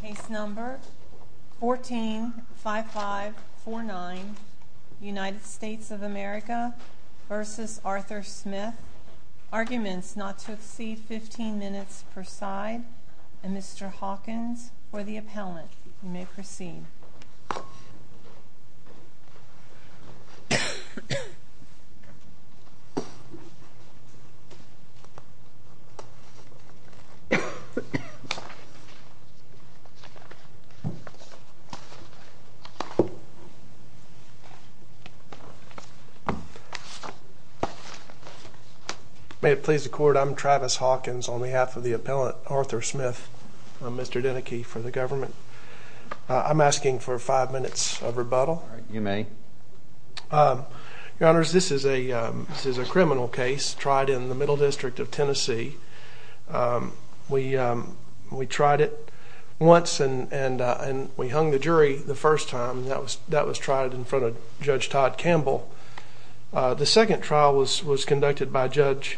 Case number 145549, United States of America v. Arthur Smith. Arguments not to accede 15 minutes per side. And Mr. Hawkins for the appellant. You may proceed. May it please the court, I'm Travis Hawkins on behalf of the appellant Arthur Smith. I'm Mr. Deneke for the government. I'm asking for five minutes of rebuttal. You may. Your honors, this is a criminal case tried in the Middle District of Tennessee. We tried it once and we hung the jury the first time. That was tried in front of Judge Todd Campbell. The second trial was conducted by Judge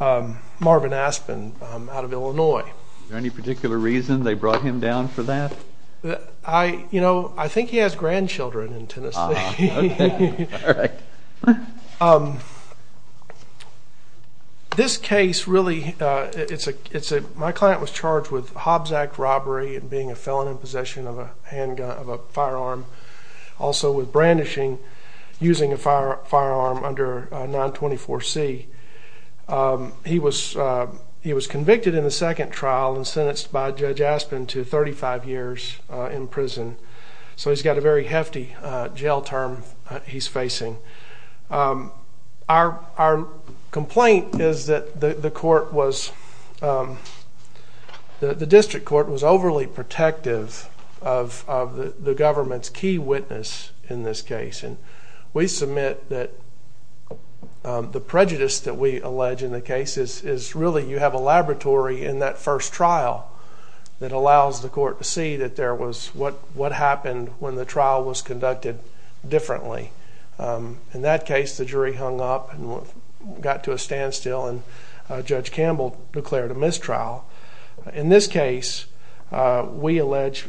Marvin Aspen out of Illinois. Is there any particular reason they brought him down for that? I think he has grandchildren in Tennessee. This case really, my client was charged with Hobbs Act robbery and being a felon in possession of a firearm. Also with brandishing, using a firearm under 924C. He was convicted in the second trial and sentenced by Judge Aspen to 35 years in prison. So he's got a very hefty jail term he's facing. Our complaint is that the court was, the district court was overly protective of the government's key witness in this case. And we submit that the prejudice that we allege in the case is really you have a laboratory in that first trial that allows the court to see that there was what happened when the trial was conducted differently. In that case, the jury hung up and got to a standstill and Judge Campbell declared a mistrial. In this case, we allege,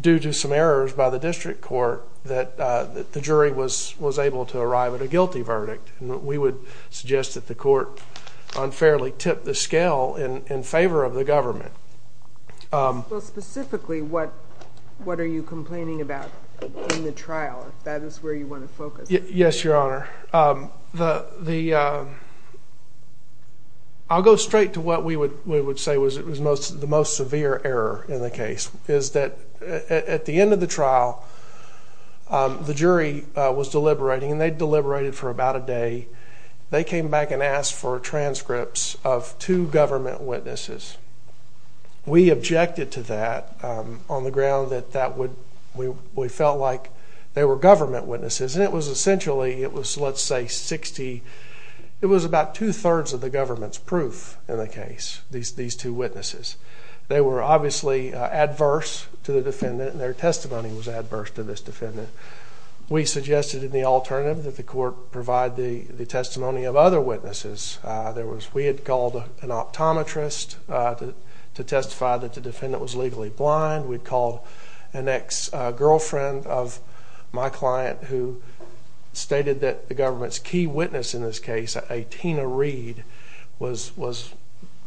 due to some errors by the district court, that the jury was able to arrive at a guilty verdict. We would suggest that the court unfairly tipped the scale in favor of the government. Specifically, what are you complaining about in the trial, if that is where you want to focus? Yes, Your Honor. I'll go straight to what we would say was the most severe error in the case, is that at the end of the trial, the jury was deliberating and they deliberated for about a day. They came back and asked for transcripts of two government witnesses. We objected to that on the ground that we felt like they were government witnesses. Essentially, it was about two-thirds of the government's proof in the case, these two witnesses. They were obviously adverse to the defendant and their testimony was adverse to this defendant. We suggested in the alternative that the court provide the testimony of other witnesses. We had called an optometrist to testify that the defendant was legally blind. We called an ex-girlfriend of my client who stated that the government's key witness in this case, a Tina Reed, was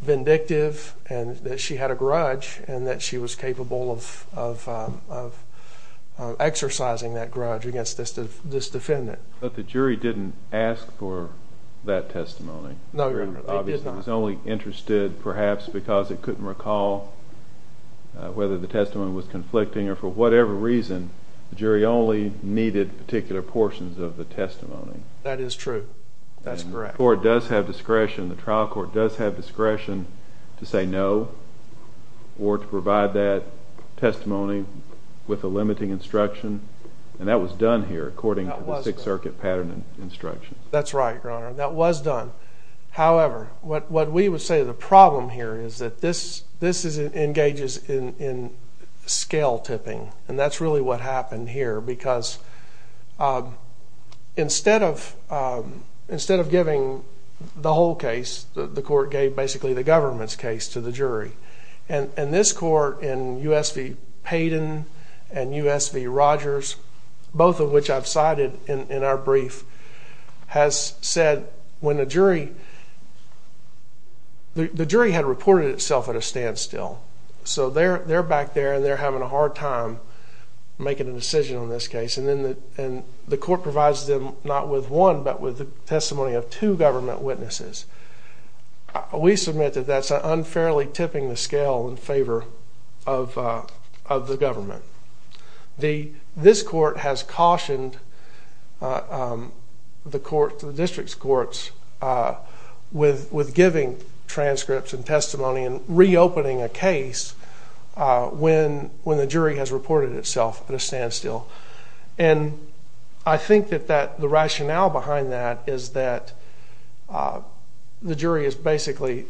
vindictive and that she had a grudge and that she was capable of exercising that grudge against this defendant. But the jury didn't ask for that testimony? No, Your Honor, they did not. The jury was only interested perhaps because it couldn't recall whether the testimony was conflicting or for whatever reason, the jury only needed particular portions of the testimony. That is true. That's correct. The court does have discretion, the trial court does have discretion to say no or to provide that testimony with a limiting instruction, and that was done here according to the Sixth Circuit pattern instructions. That's right, Your Honor, that was done. However, what we would say the problem here is that this engages in scale tipping, and that's really what happened here because instead of giving the whole case, the court gave basically the government's case to the jury. And this court in U.S. v. Payden and U.S. v. Rogers, both of which I've cited in our brief, has said when the jury had reported itself at a standstill, so they're back there and they're having a hard time making a decision on this case, and the court provides them not with one but with the testimony of two government witnesses. We submit that that's unfairly tipping the scale in favor of the government. This court has cautioned the district's courts with giving transcripts and testimony and reopening a case when the jury has reported itself at a standstill. And I think that the rationale behind that is that the jury is basically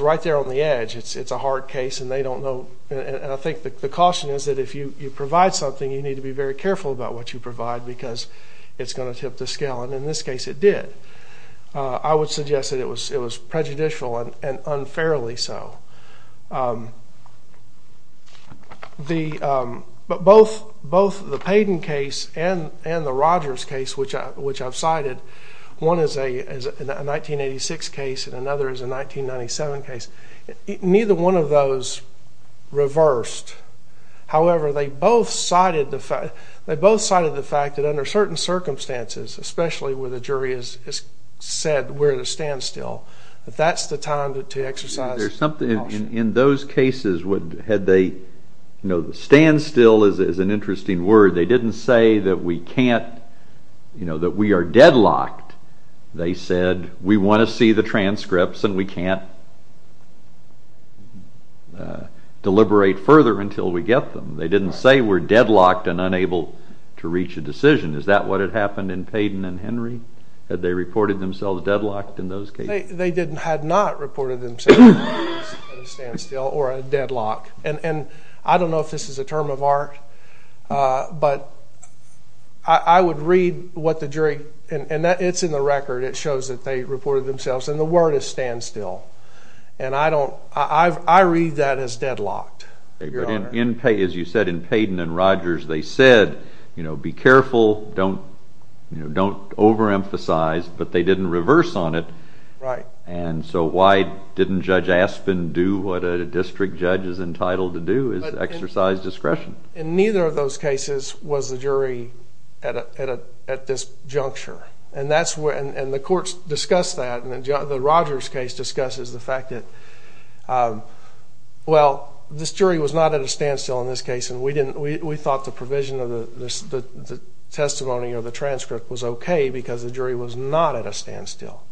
right there on the edge. It's a hard case, and they don't know. And I think the caution is that if you provide something, you need to be very careful about what you provide because it's going to tip the scale, and in this case it did. I would suggest that it was prejudicial and unfairly so. But both the Payden case and the Rogers case, which I've cited, one is a 1986 case and another is a 1997 case, neither one of those reversed. However, they both cited the fact that under certain circumstances, especially where the jury has said we're at a standstill, that that's the time to exercise caution. In those cases, had they, you know, standstill is an interesting word. They didn't say that we can't, you know, that we are deadlocked. They said we want to see the transcripts and we can't deliberate further until we get them. They didn't say we're deadlocked and unable to reach a decision. Is that what had happened in Payden and Henry? Had they reported themselves deadlocked in those cases? They had not reported themselves at a standstill or a deadlock. And I don't know if this is a term of art, but I would read what the jury, and it's in the record, it shows that they reported themselves, and the word is standstill. And I read that as deadlocked, Your Honor. As you said, in Payden and Rogers they said, you know, be careful, don't overemphasize, but they didn't reverse on it. Right. And so why didn't Judge Aspen do what a district judge is entitled to do, is exercise discretion? In neither of those cases was the jury at this juncture. And the courts discussed that, and the Rogers case discusses the fact that, well, this jury was not at a standstill in this case, and we thought the provision of the testimony or the transcript was okay because the jury was not at a standstill.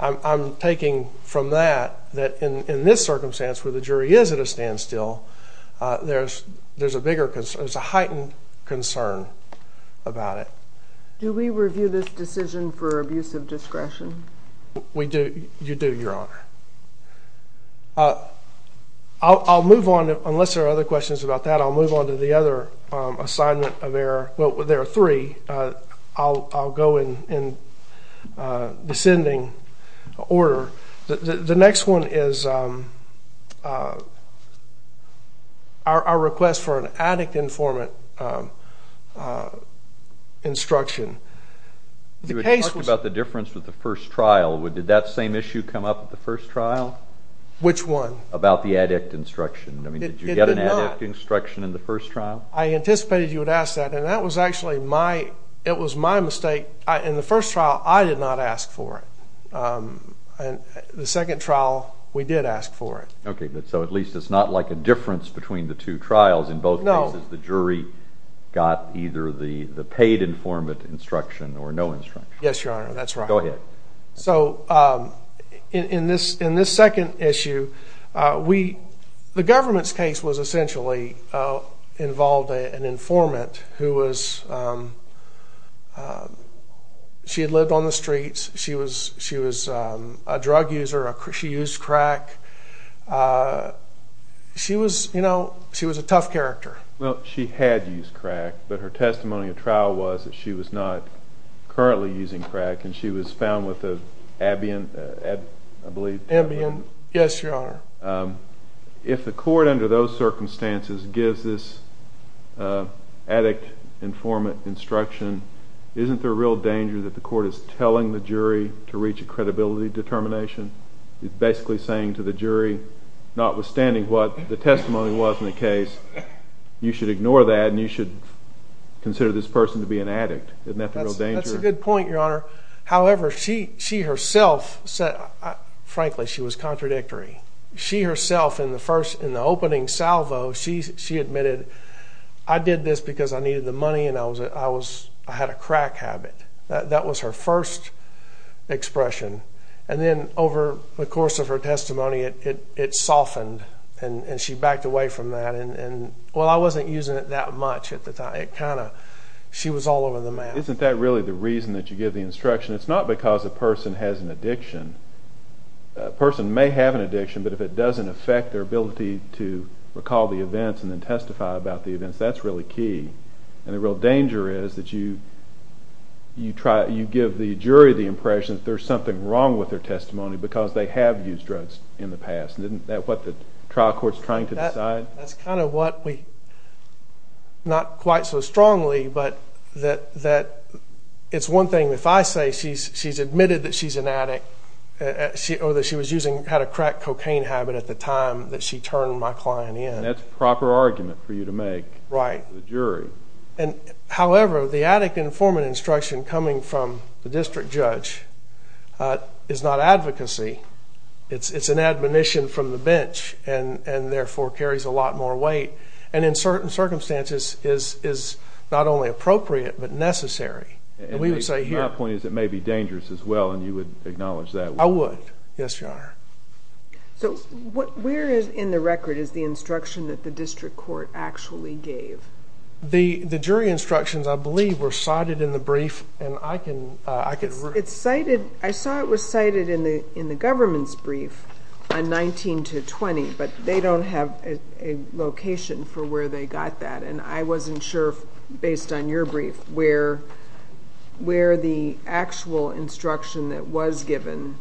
I'm taking from that that in this circumstance where the jury is at a standstill, there's a heightened concern about it. Do we review this decision for abuse of discretion? We do. You do, Your Honor. I'll move on, unless there are other questions about that, I'll move on to the other assignment of error. Well, there are three. I'll go in descending order. The next one is our request for an addict-informant instruction. You had talked about the difference with the first trial. Did that same issue come up at the first trial? Which one? About the addict instruction. Did you get an addict instruction in the first trial? I anticipated you would ask that, and that was actually my mistake. In the first trial, I did not ask for it. The second trial, we did ask for it. Okay, so at least it's not like a difference between the two trials. In both cases, the jury got either the paid informant instruction or no instruction. Yes, Your Honor, that's right. Go ahead. So in this second issue, the government's case was essentially involved an informant who had lived on the streets. She was a drug user. She used crack. She was a tough character. Well, she had used crack, but her testimony at trial was that she was not currently using crack, and she was found with an ambient, I believe. Ambient, yes, Your Honor. If the court under those circumstances gives this addict informant instruction, isn't there a real danger that the court is telling the jury to reach a credibility determination? It's basically saying to the jury, notwithstanding what the testimony was in the case, you should ignore that and you should consider this person to be an addict. Isn't that the real danger? That's a good point, Your Honor. However, she herself said, frankly, she was contradictory. She herself, in the opening salvo, she admitted, I did this because I needed the money and I had a crack habit. That was her first expression. And then over the course of her testimony, it softened, and she backed away from that. Well, I wasn't using it that much at the time. It kind of, she was all over the map. Isn't that really the reason that you give the instruction? It's not because a person has an addiction. A person may have an addiction, but if it doesn't affect their ability to recall the events and then testify about the events, that's really key. And the real danger is that you give the jury the impression that there's something wrong with their testimony because they have used drugs in the past. Isn't that what the trial court is trying to decide? That's kind of what we, not quite so strongly, but that it's one thing if I say she's admitted that she's an addict or that she was using, had a crack cocaine habit at the time that she turned my client in. And that's a proper argument for you to make to the jury. Right. However, the addict informant instruction coming from the district judge is not advocacy. It's an admonition from the bench and therefore carries a lot more weight and in certain circumstances is not only appropriate, but necessary. And my point is it may be dangerous as well, and you would acknowledge that? I would. Yes, Your Honor. So where in the record is the instruction that the district court actually gave? The jury instructions, I believe, were cited in the brief. I saw it was cited in the government's brief on 19 to 20, but they don't have a location for where they got that, and I wasn't sure, based on your brief, where the actual instruction that was given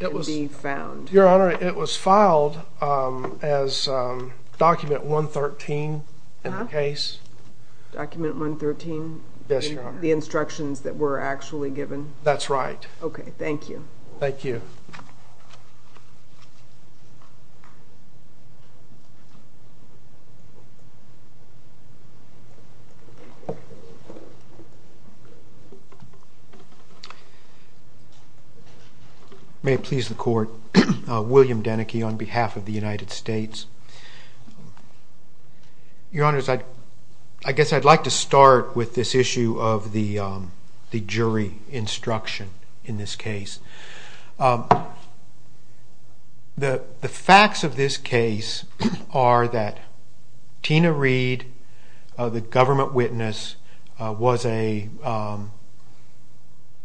can be found. Your Honor, it was filed as document 113 in the case. Document 113? Yes, Your Honor. Is that the instructions that were actually given? That's right. Okay. Thank you. Thank you. May it please the Court. William Denneke on behalf of the United States. Your Honor, I guess I'd like to start with this issue of the jury instruction in this case. The facts of this case are that Tina Reed, the government witness, was a...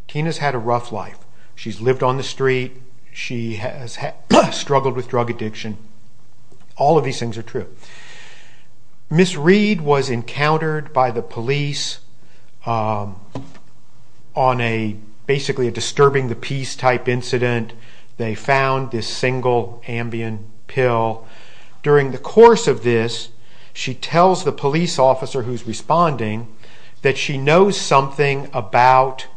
Tina's had a rough life. She's lived on the street. She has struggled with drug addiction. All of these things are true. Ms. Reed was encountered by the police on basically a disturbing the peace type incident. They found this single Ambien pill. During the course of this, she tells the police officer who's responding that she knows something about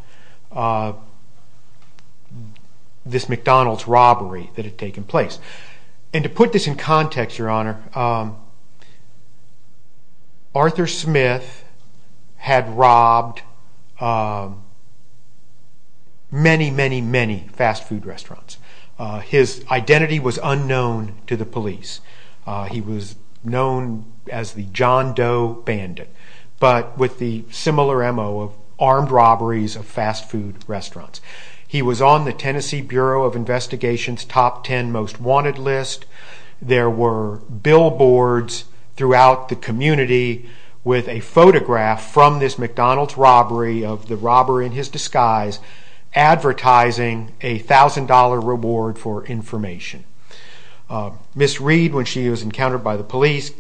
this McDonald's robbery that had taken place. And to put this in context, Your Honor, Arthur Smith had robbed many, many, many fast food restaurants. His identity was unknown to the police. He was known as the John Doe Bandit, but with the similar MO of armed robberies of fast food restaurants. He was on the Tennessee Bureau of Investigation's Top Ten Most Wanted list. There were billboards throughout the community with a photograph from this McDonald's robbery of the robber in his disguise advertising a $1,000 reward for information. Ms. Reed, when she was encountered by the police,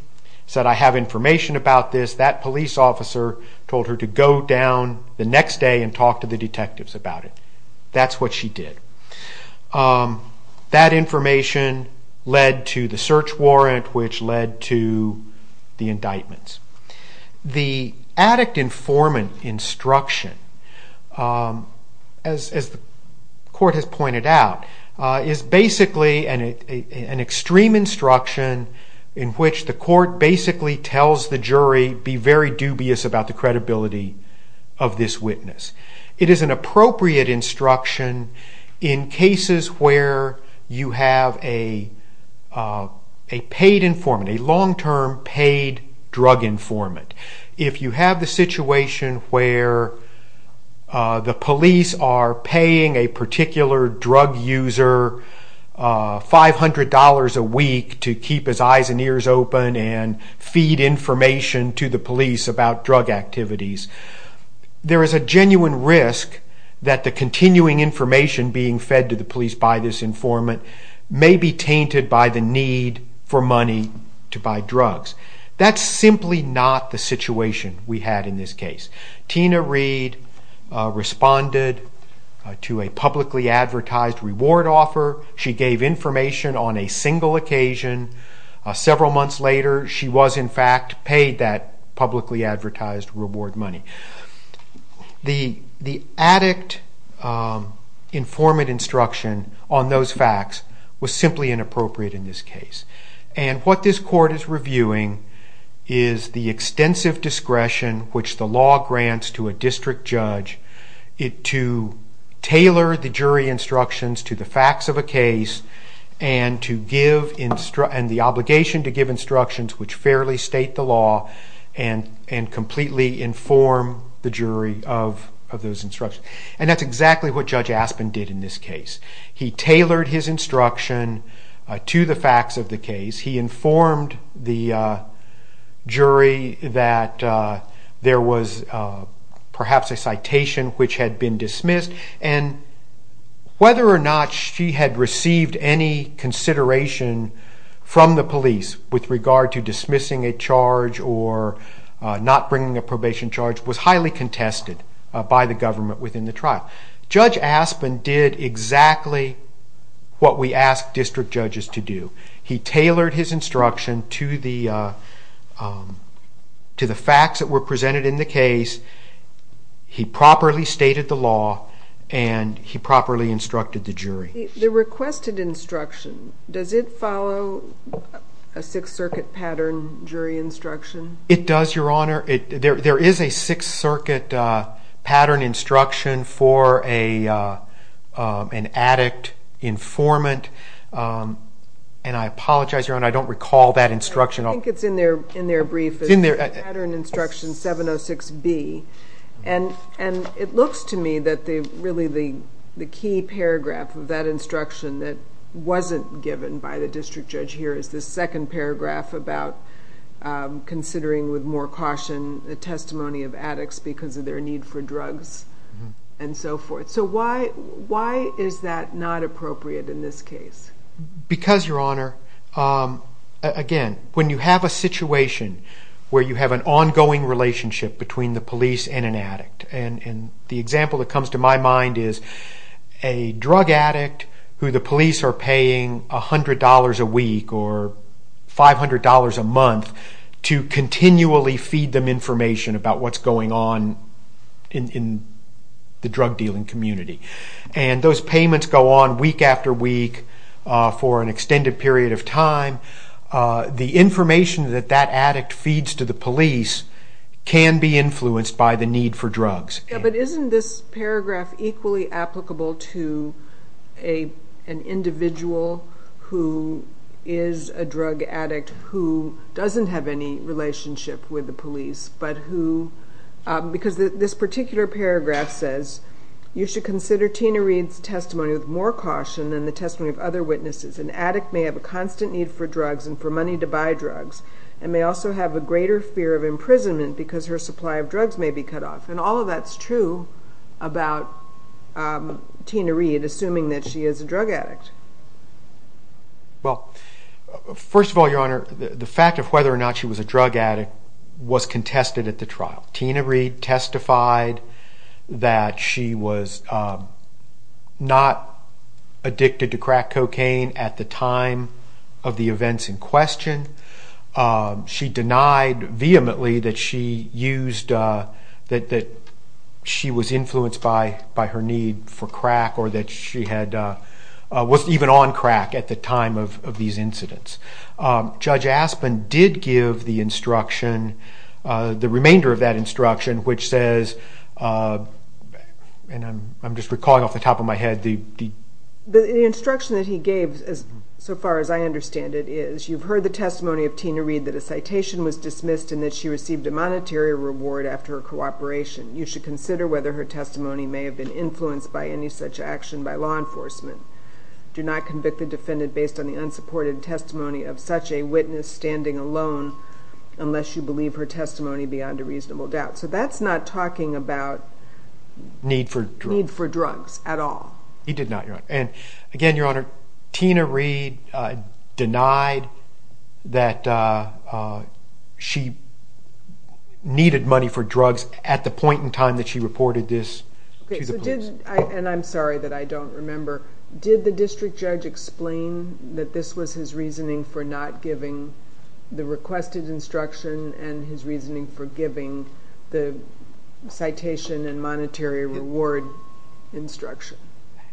said, I have information about this. That police officer told her to go down the next day and talk to the detectives about it. That's what she did. That information led to the search warrant, which led to the indictments. The addict informant instruction, as the court has pointed out, is basically an extreme instruction in which the court basically tells the jury to be very dubious about the credibility of this witness. It is an appropriate instruction in cases where you have a paid informant, a long-term paid drug informant. If you have the situation where the police are paying a particular drug user $500 a week to keep his eyes and ears open and feed information to the police about drug activities, there is a genuine risk that the continuing information being fed to the police by this informant may be tainted by the need for money to buy drugs. That's simply not the situation we had in this case. Tina Reed responded to a publicly advertised reward offer. She gave information on a single occasion. Several months later, she was in fact paid that publicly advertised reward money. The addict informant instruction on those facts was simply inappropriate in this case. What this court is reviewing is the extensive discretion which the law grants to a district judge to tailor the jury instructions to the facts of a case and the obligation to give instructions which fairly state the law and completely inform the jury of those instructions. That's exactly what Judge Aspin did in this case. He tailored his instruction to the facts of the case. He informed the jury that there was perhaps a citation which had been dismissed and whether or not she had received any consideration from the police with regard to dismissing a charge or not bringing a probation charge was highly contested by the government within the trial. Judge Aspin did exactly what we ask district judges to do. He tailored his instruction to the facts that were presented in the case. He properly stated the law and he properly instructed the jury. The requested instruction, does it follow a Sixth Circuit pattern jury instruction? It does, Your Honor. There is a Sixth Circuit pattern instruction for an addict informant. I apologize, Your Honor, I don't recall that instruction. I think it's in their brief, pattern instruction 706B. It looks to me that really the key paragraph of that instruction that wasn't given by the district judge here is the second paragraph about considering with more caution the testimony of addicts because of their need for drugs and so forth. So why is that not appropriate in this case? Because, Your Honor, again, when you have a situation where you have an ongoing relationship between the police and an addict and the example that comes to my mind is a drug addict who the police are paying $100 a week or $500 a month to continually feed them information about what's going on in the drug dealing community. And those payments go on week after week for an extended period of time. The information that that addict feeds to the police can be influenced by the need for drugs. But isn't this paragraph equally applicable to an individual who is a drug addict who doesn't have any relationship with the police but who, because this particular paragraph says, you should consider Tina Reed's testimony with more caution than the testimony of other witnesses. An addict may have a constant need for drugs and for money to buy drugs and may also have a greater fear of imprisonment because her supply of drugs may be cut off. And all of that's true about Tina Reed, assuming that she is a drug addict. Well, first of all, Your Honor, the fact of whether or not she was a drug addict was contested at the trial. Tina Reed testified that she was not addicted to crack cocaine at the time of the events in question. She denied vehemently that she was influenced by her need for crack or that she was even on crack at the time of these incidents. Judge Aspin did give the instruction, the remainder of that instruction, which says, and I'm just recalling off the top of my head. The instruction that he gave, so far as I understand it, is you've heard the testimony of Tina Reed that a citation was dismissed and that she received a monetary reward after her cooperation. You should consider whether her testimony may have been influenced by any such action by law enforcement. Do not convict the defendant based on the unsupported testimony of such a witness standing alone unless you believe her testimony beyond a reasonable doubt. So that's not talking about need for drugs at all. He did not, Your Honor. Again, Your Honor, Tina Reed denied that she needed money for drugs at the point in time that she reported this to the police. I'm sorry that I don't remember. Did the district judge explain that this was his reasoning for not giving the requested instruction and his reasoning for giving the citation and monetary reward instruction?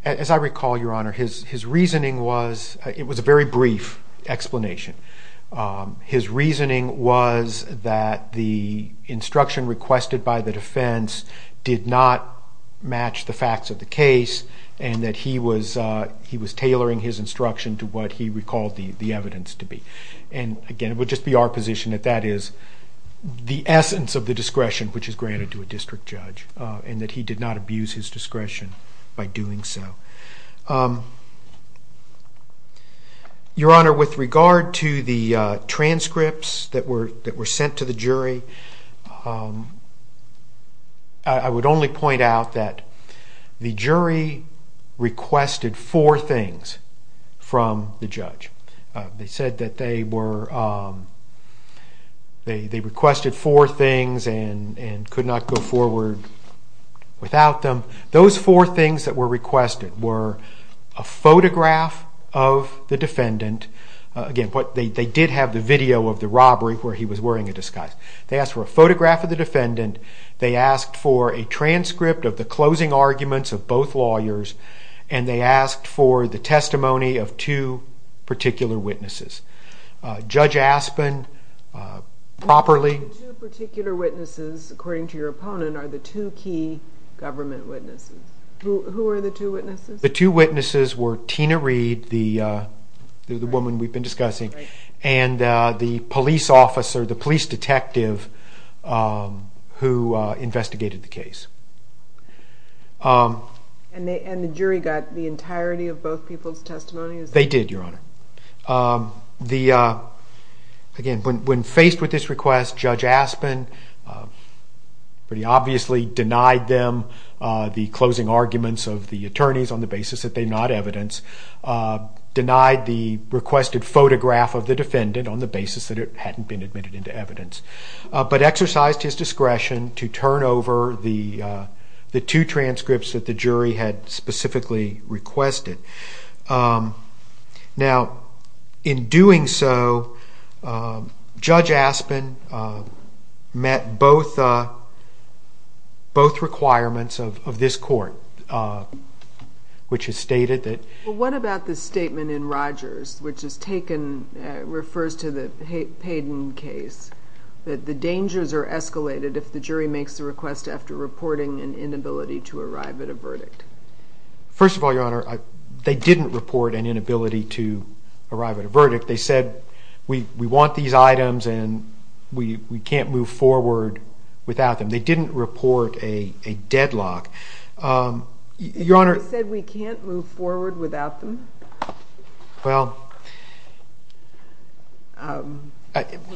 As I recall, Your Honor, his reasoning was a very brief explanation. His reasoning was that the instruction requested by the defense did not match the facts of the case and that he was tailoring his instruction to what he recalled the evidence to be. Again, it would just be our position that that is the essence of the discretion which is granted to a district judge and that he did not abuse his discretion by doing so. Your Honor, with regard to the transcripts that were sent to the jury, I would only point out that the jury requested four things from the judge. They said that they requested four things and could not go forward without them. Those four things that were requested were a photograph of the defendant. Again, they did have the video of the robbery where he was wearing a disguise. They asked for a photograph of the defendant. They asked for a transcript of the closing arguments of both lawyers and they asked for the testimony of two particular witnesses. Judge Aspen properly... The two particular witnesses, according to your opponent, are the two key government witnesses. Who are the two witnesses? The two witnesses were Tina Reed, the woman we've been discussing, and the police officer, the police detective who investigated the case. And the jury got the entirety of both people's testimonies? They did, your Honor. Again, when faced with this request, Judge Aspen pretty obviously denied them the closing arguments of the attorneys on the basis that they're not evidence, denied the requested photograph of the defendant on the basis that it hadn't been admitted into evidence, but exercised his discretion to turn over the two transcripts that the jury had specifically requested. Now, in doing so, Judge Aspen met both requirements of this court, which has stated that... Well, what about the statement in Rogers, which refers to the Payden case, that the dangers are escalated if the jury makes the request after reporting an inability to arrive at a verdict? First of all, your Honor, they didn't report an inability to arrive at a verdict. They said, we want these items and we can't move forward without them. They didn't report a deadlock. They said we can't move forward without them? Well... Who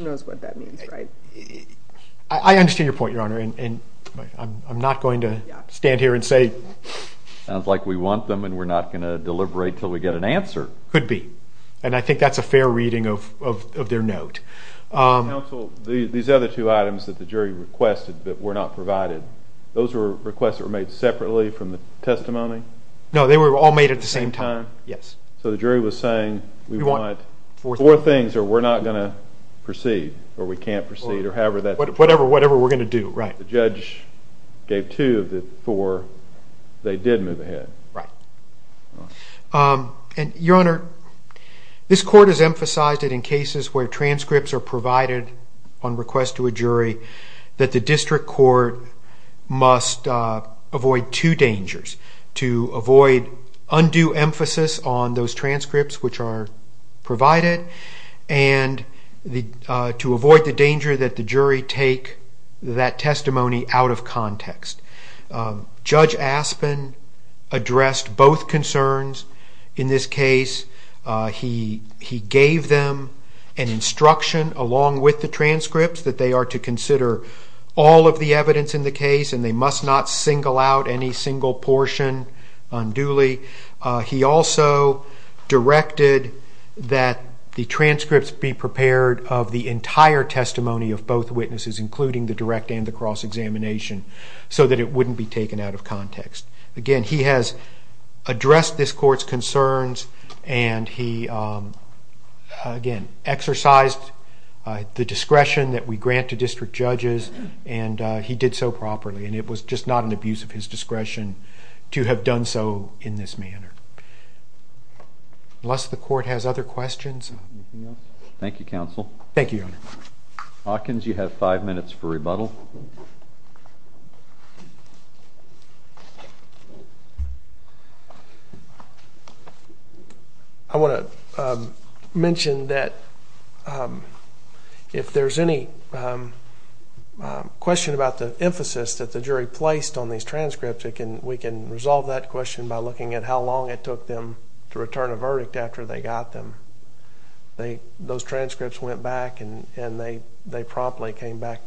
knows what that means, right? I understand your point, your Honor, and I'm not going to stand here and say... Sounds like we want them and we're not going to deliberate until we get an answer. Could be, and I think that's a fair reading of their note. Counsel, these other two items that the jury requested but were not provided, those were requests that were made separately from the testimony? No, they were all made at the same time. Same time? Yes. So the jury was saying, we want four things or we're not going to proceed, or we can't proceed, or however that... Whatever we're going to do, right. The judge gave two of the four, they did move ahead. Right. Your Honor, this court has emphasized that in cases where transcripts are provided on request to a jury, that the district court must avoid two dangers, to avoid undue emphasis on those transcripts which are provided, and to avoid the danger that the jury take that testimony out of context. Judge Aspin addressed both concerns in this case. He gave them an instruction along with the transcripts that they are to consider all of the evidence in the case and they must not single out any single portion unduly. He also directed that the transcripts be prepared of the entire testimony of both witnesses, including the direct and the cross-examination, so that it wouldn't be taken out of context. Again, he has addressed this court's concerns and he, again, exercised the discretion that we grant to district judges and he did so properly and it was just not an abuse of his discretion to have done so in this manner. Unless the court has other questions. Anything else? Thank you, counsel. Thank you, Your Honor. Hawkins, you have five minutes for rebuttal. I want to mention that if there's any question about the emphasis that the jury placed on these transcripts, we can resolve that question by looking at how long it took them to return a verdict after they got them. Those transcripts went back and they promptly came back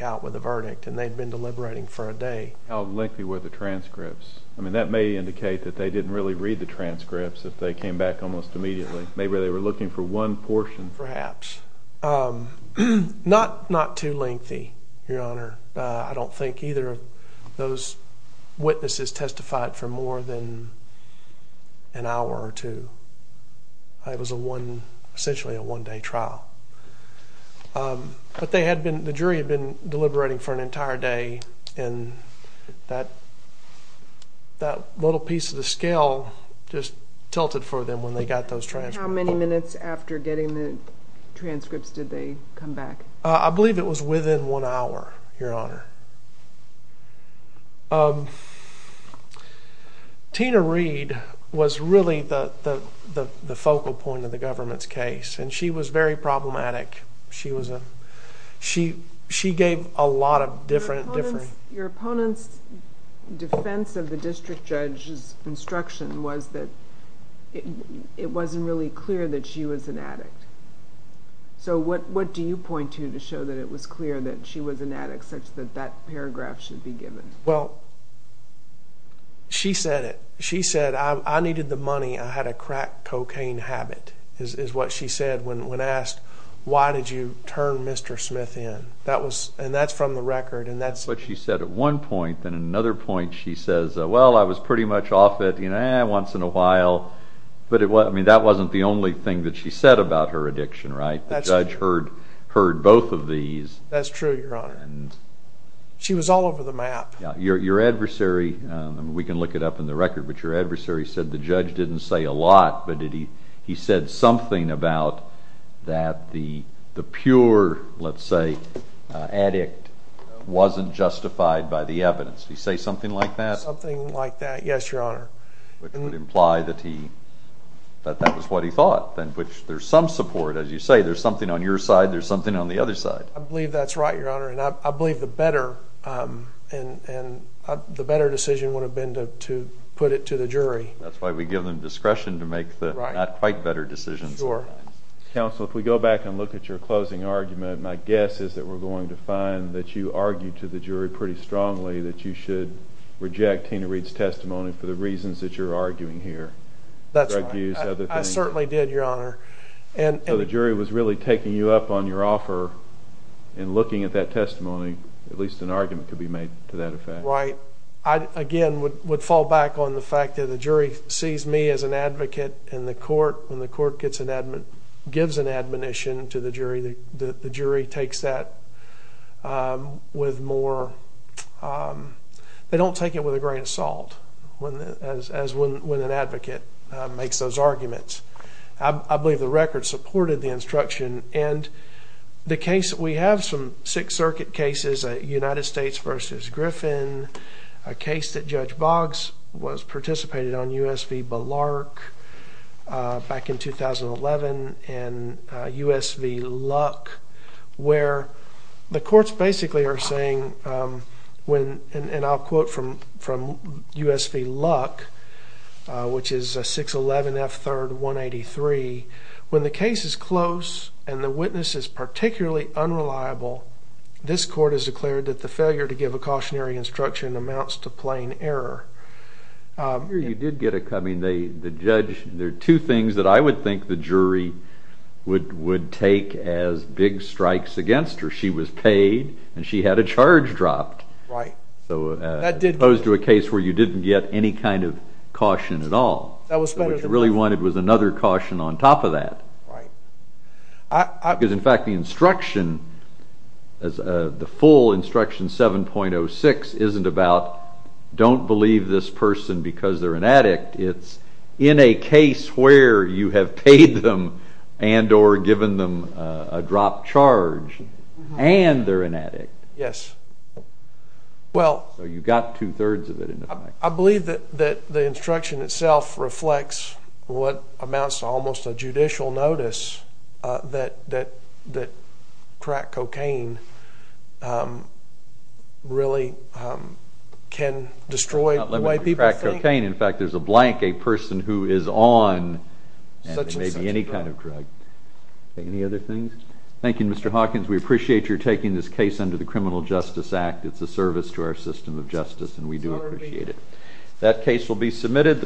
out with a verdict and they'd been deliberating for a day. How lengthy were the transcripts? I mean, that may indicate that they didn't really read the transcripts if they came back almost immediately. Maybe they were looking for one portion. Perhaps. Not too lengthy, Your Honor. I don't think either of those witnesses testified for more than an hour or two. It was essentially a one-day trial. But the jury had been deliberating for an entire day and that little piece of the scale just tilted for them when they got those transcripts. How many minutes after getting the transcripts did they come back? I believe it was within one hour, Your Honor. Tina Reed was really the focal point of the government's case and she was very problematic. She gave a lot of different... Your opponent's defense of the district judge's instruction was that it wasn't really clear that she was an addict. So what do you point to to show that it was clear that she was an addict such that that paragraph should be given? Well, she said it. She said, I needed the money. I had a crack cocaine habit, is what she said when asked, why did you turn Mr. Smith in? And that's from the record. That's what she said at one point. Then at another point she says, well, I was pretty much off it once in a while. But that wasn't the only thing that she said about her addiction, right? The judge heard both of these. That's true, Your Honor. She was all over the map. Your adversary, we can look it up in the record, but your adversary said the judge didn't say a lot, but he said something about that the pure, let's say, addict wasn't justified by the evidence. Did he say something like that? Something like that, yes, Your Honor. Which would imply that that was what he thought, which there's some support, as you say. There's something on your side, there's something on the other side. I believe that's right, Your Honor. I believe the better decision would have been to put it to the jury. That's why we give them discretion to make the not quite better decisions. Counsel, if we go back and look at your closing argument, my guess is that we're going to find that you argued to the jury pretty strongly that you should reject Tina Reed's testimony for the reasons that you're arguing here. That's right. I certainly did, Your Honor. So the jury was really taking you up on your offer in looking at that testimony. At least an argument could be made to that effect. Right. I, again, would fall back on the fact that the jury sees me as an advocate in the court. When the court gives an admonition to the jury, the jury takes that with more, they don't take it with a grain of salt as when an advocate makes those arguments. I believe the record supported the instruction, and the case that we have, some Sixth Circuit cases, United States v. Griffin, a case that Judge Boggs participated on, U.S. v. Bellark, back in 2011, and U.S. v. Luck, where the courts basically are saying, and I'll quote from U.S. v. Luck, which is 611 F. 3rd 183, when the case is close and the witness is particularly unreliable, this court has declared that the failure to give a cautionary instruction amounts to plain error. You did get a, I mean, the judge, there are two things that I would think the jury would take as big strikes against her. She was paid, and she had a charge dropped. Right. So as opposed to a case where you didn't get any kind of caution at all. What you really wanted was another caution on top of that. Right. Because, in fact, the instruction, the full instruction 7.06, isn't about don't believe this person because they're an addict. It's in a case where you have paid them and or given them a dropped charge, and they're an addict. Yes. So you got two-thirds of it. I believe that the instruction itself reflects what amounts to almost a judicial notice that crack cocaine really can destroy the way people think. In fact, there's a blank, a person who is on maybe any kind of drug. Any other things? Thank you, Mr. Hawkins. We appreciate your taking this case under the Criminal Justice Act. It's a service to our system of justice, and we do appreciate it. That case will be submitted.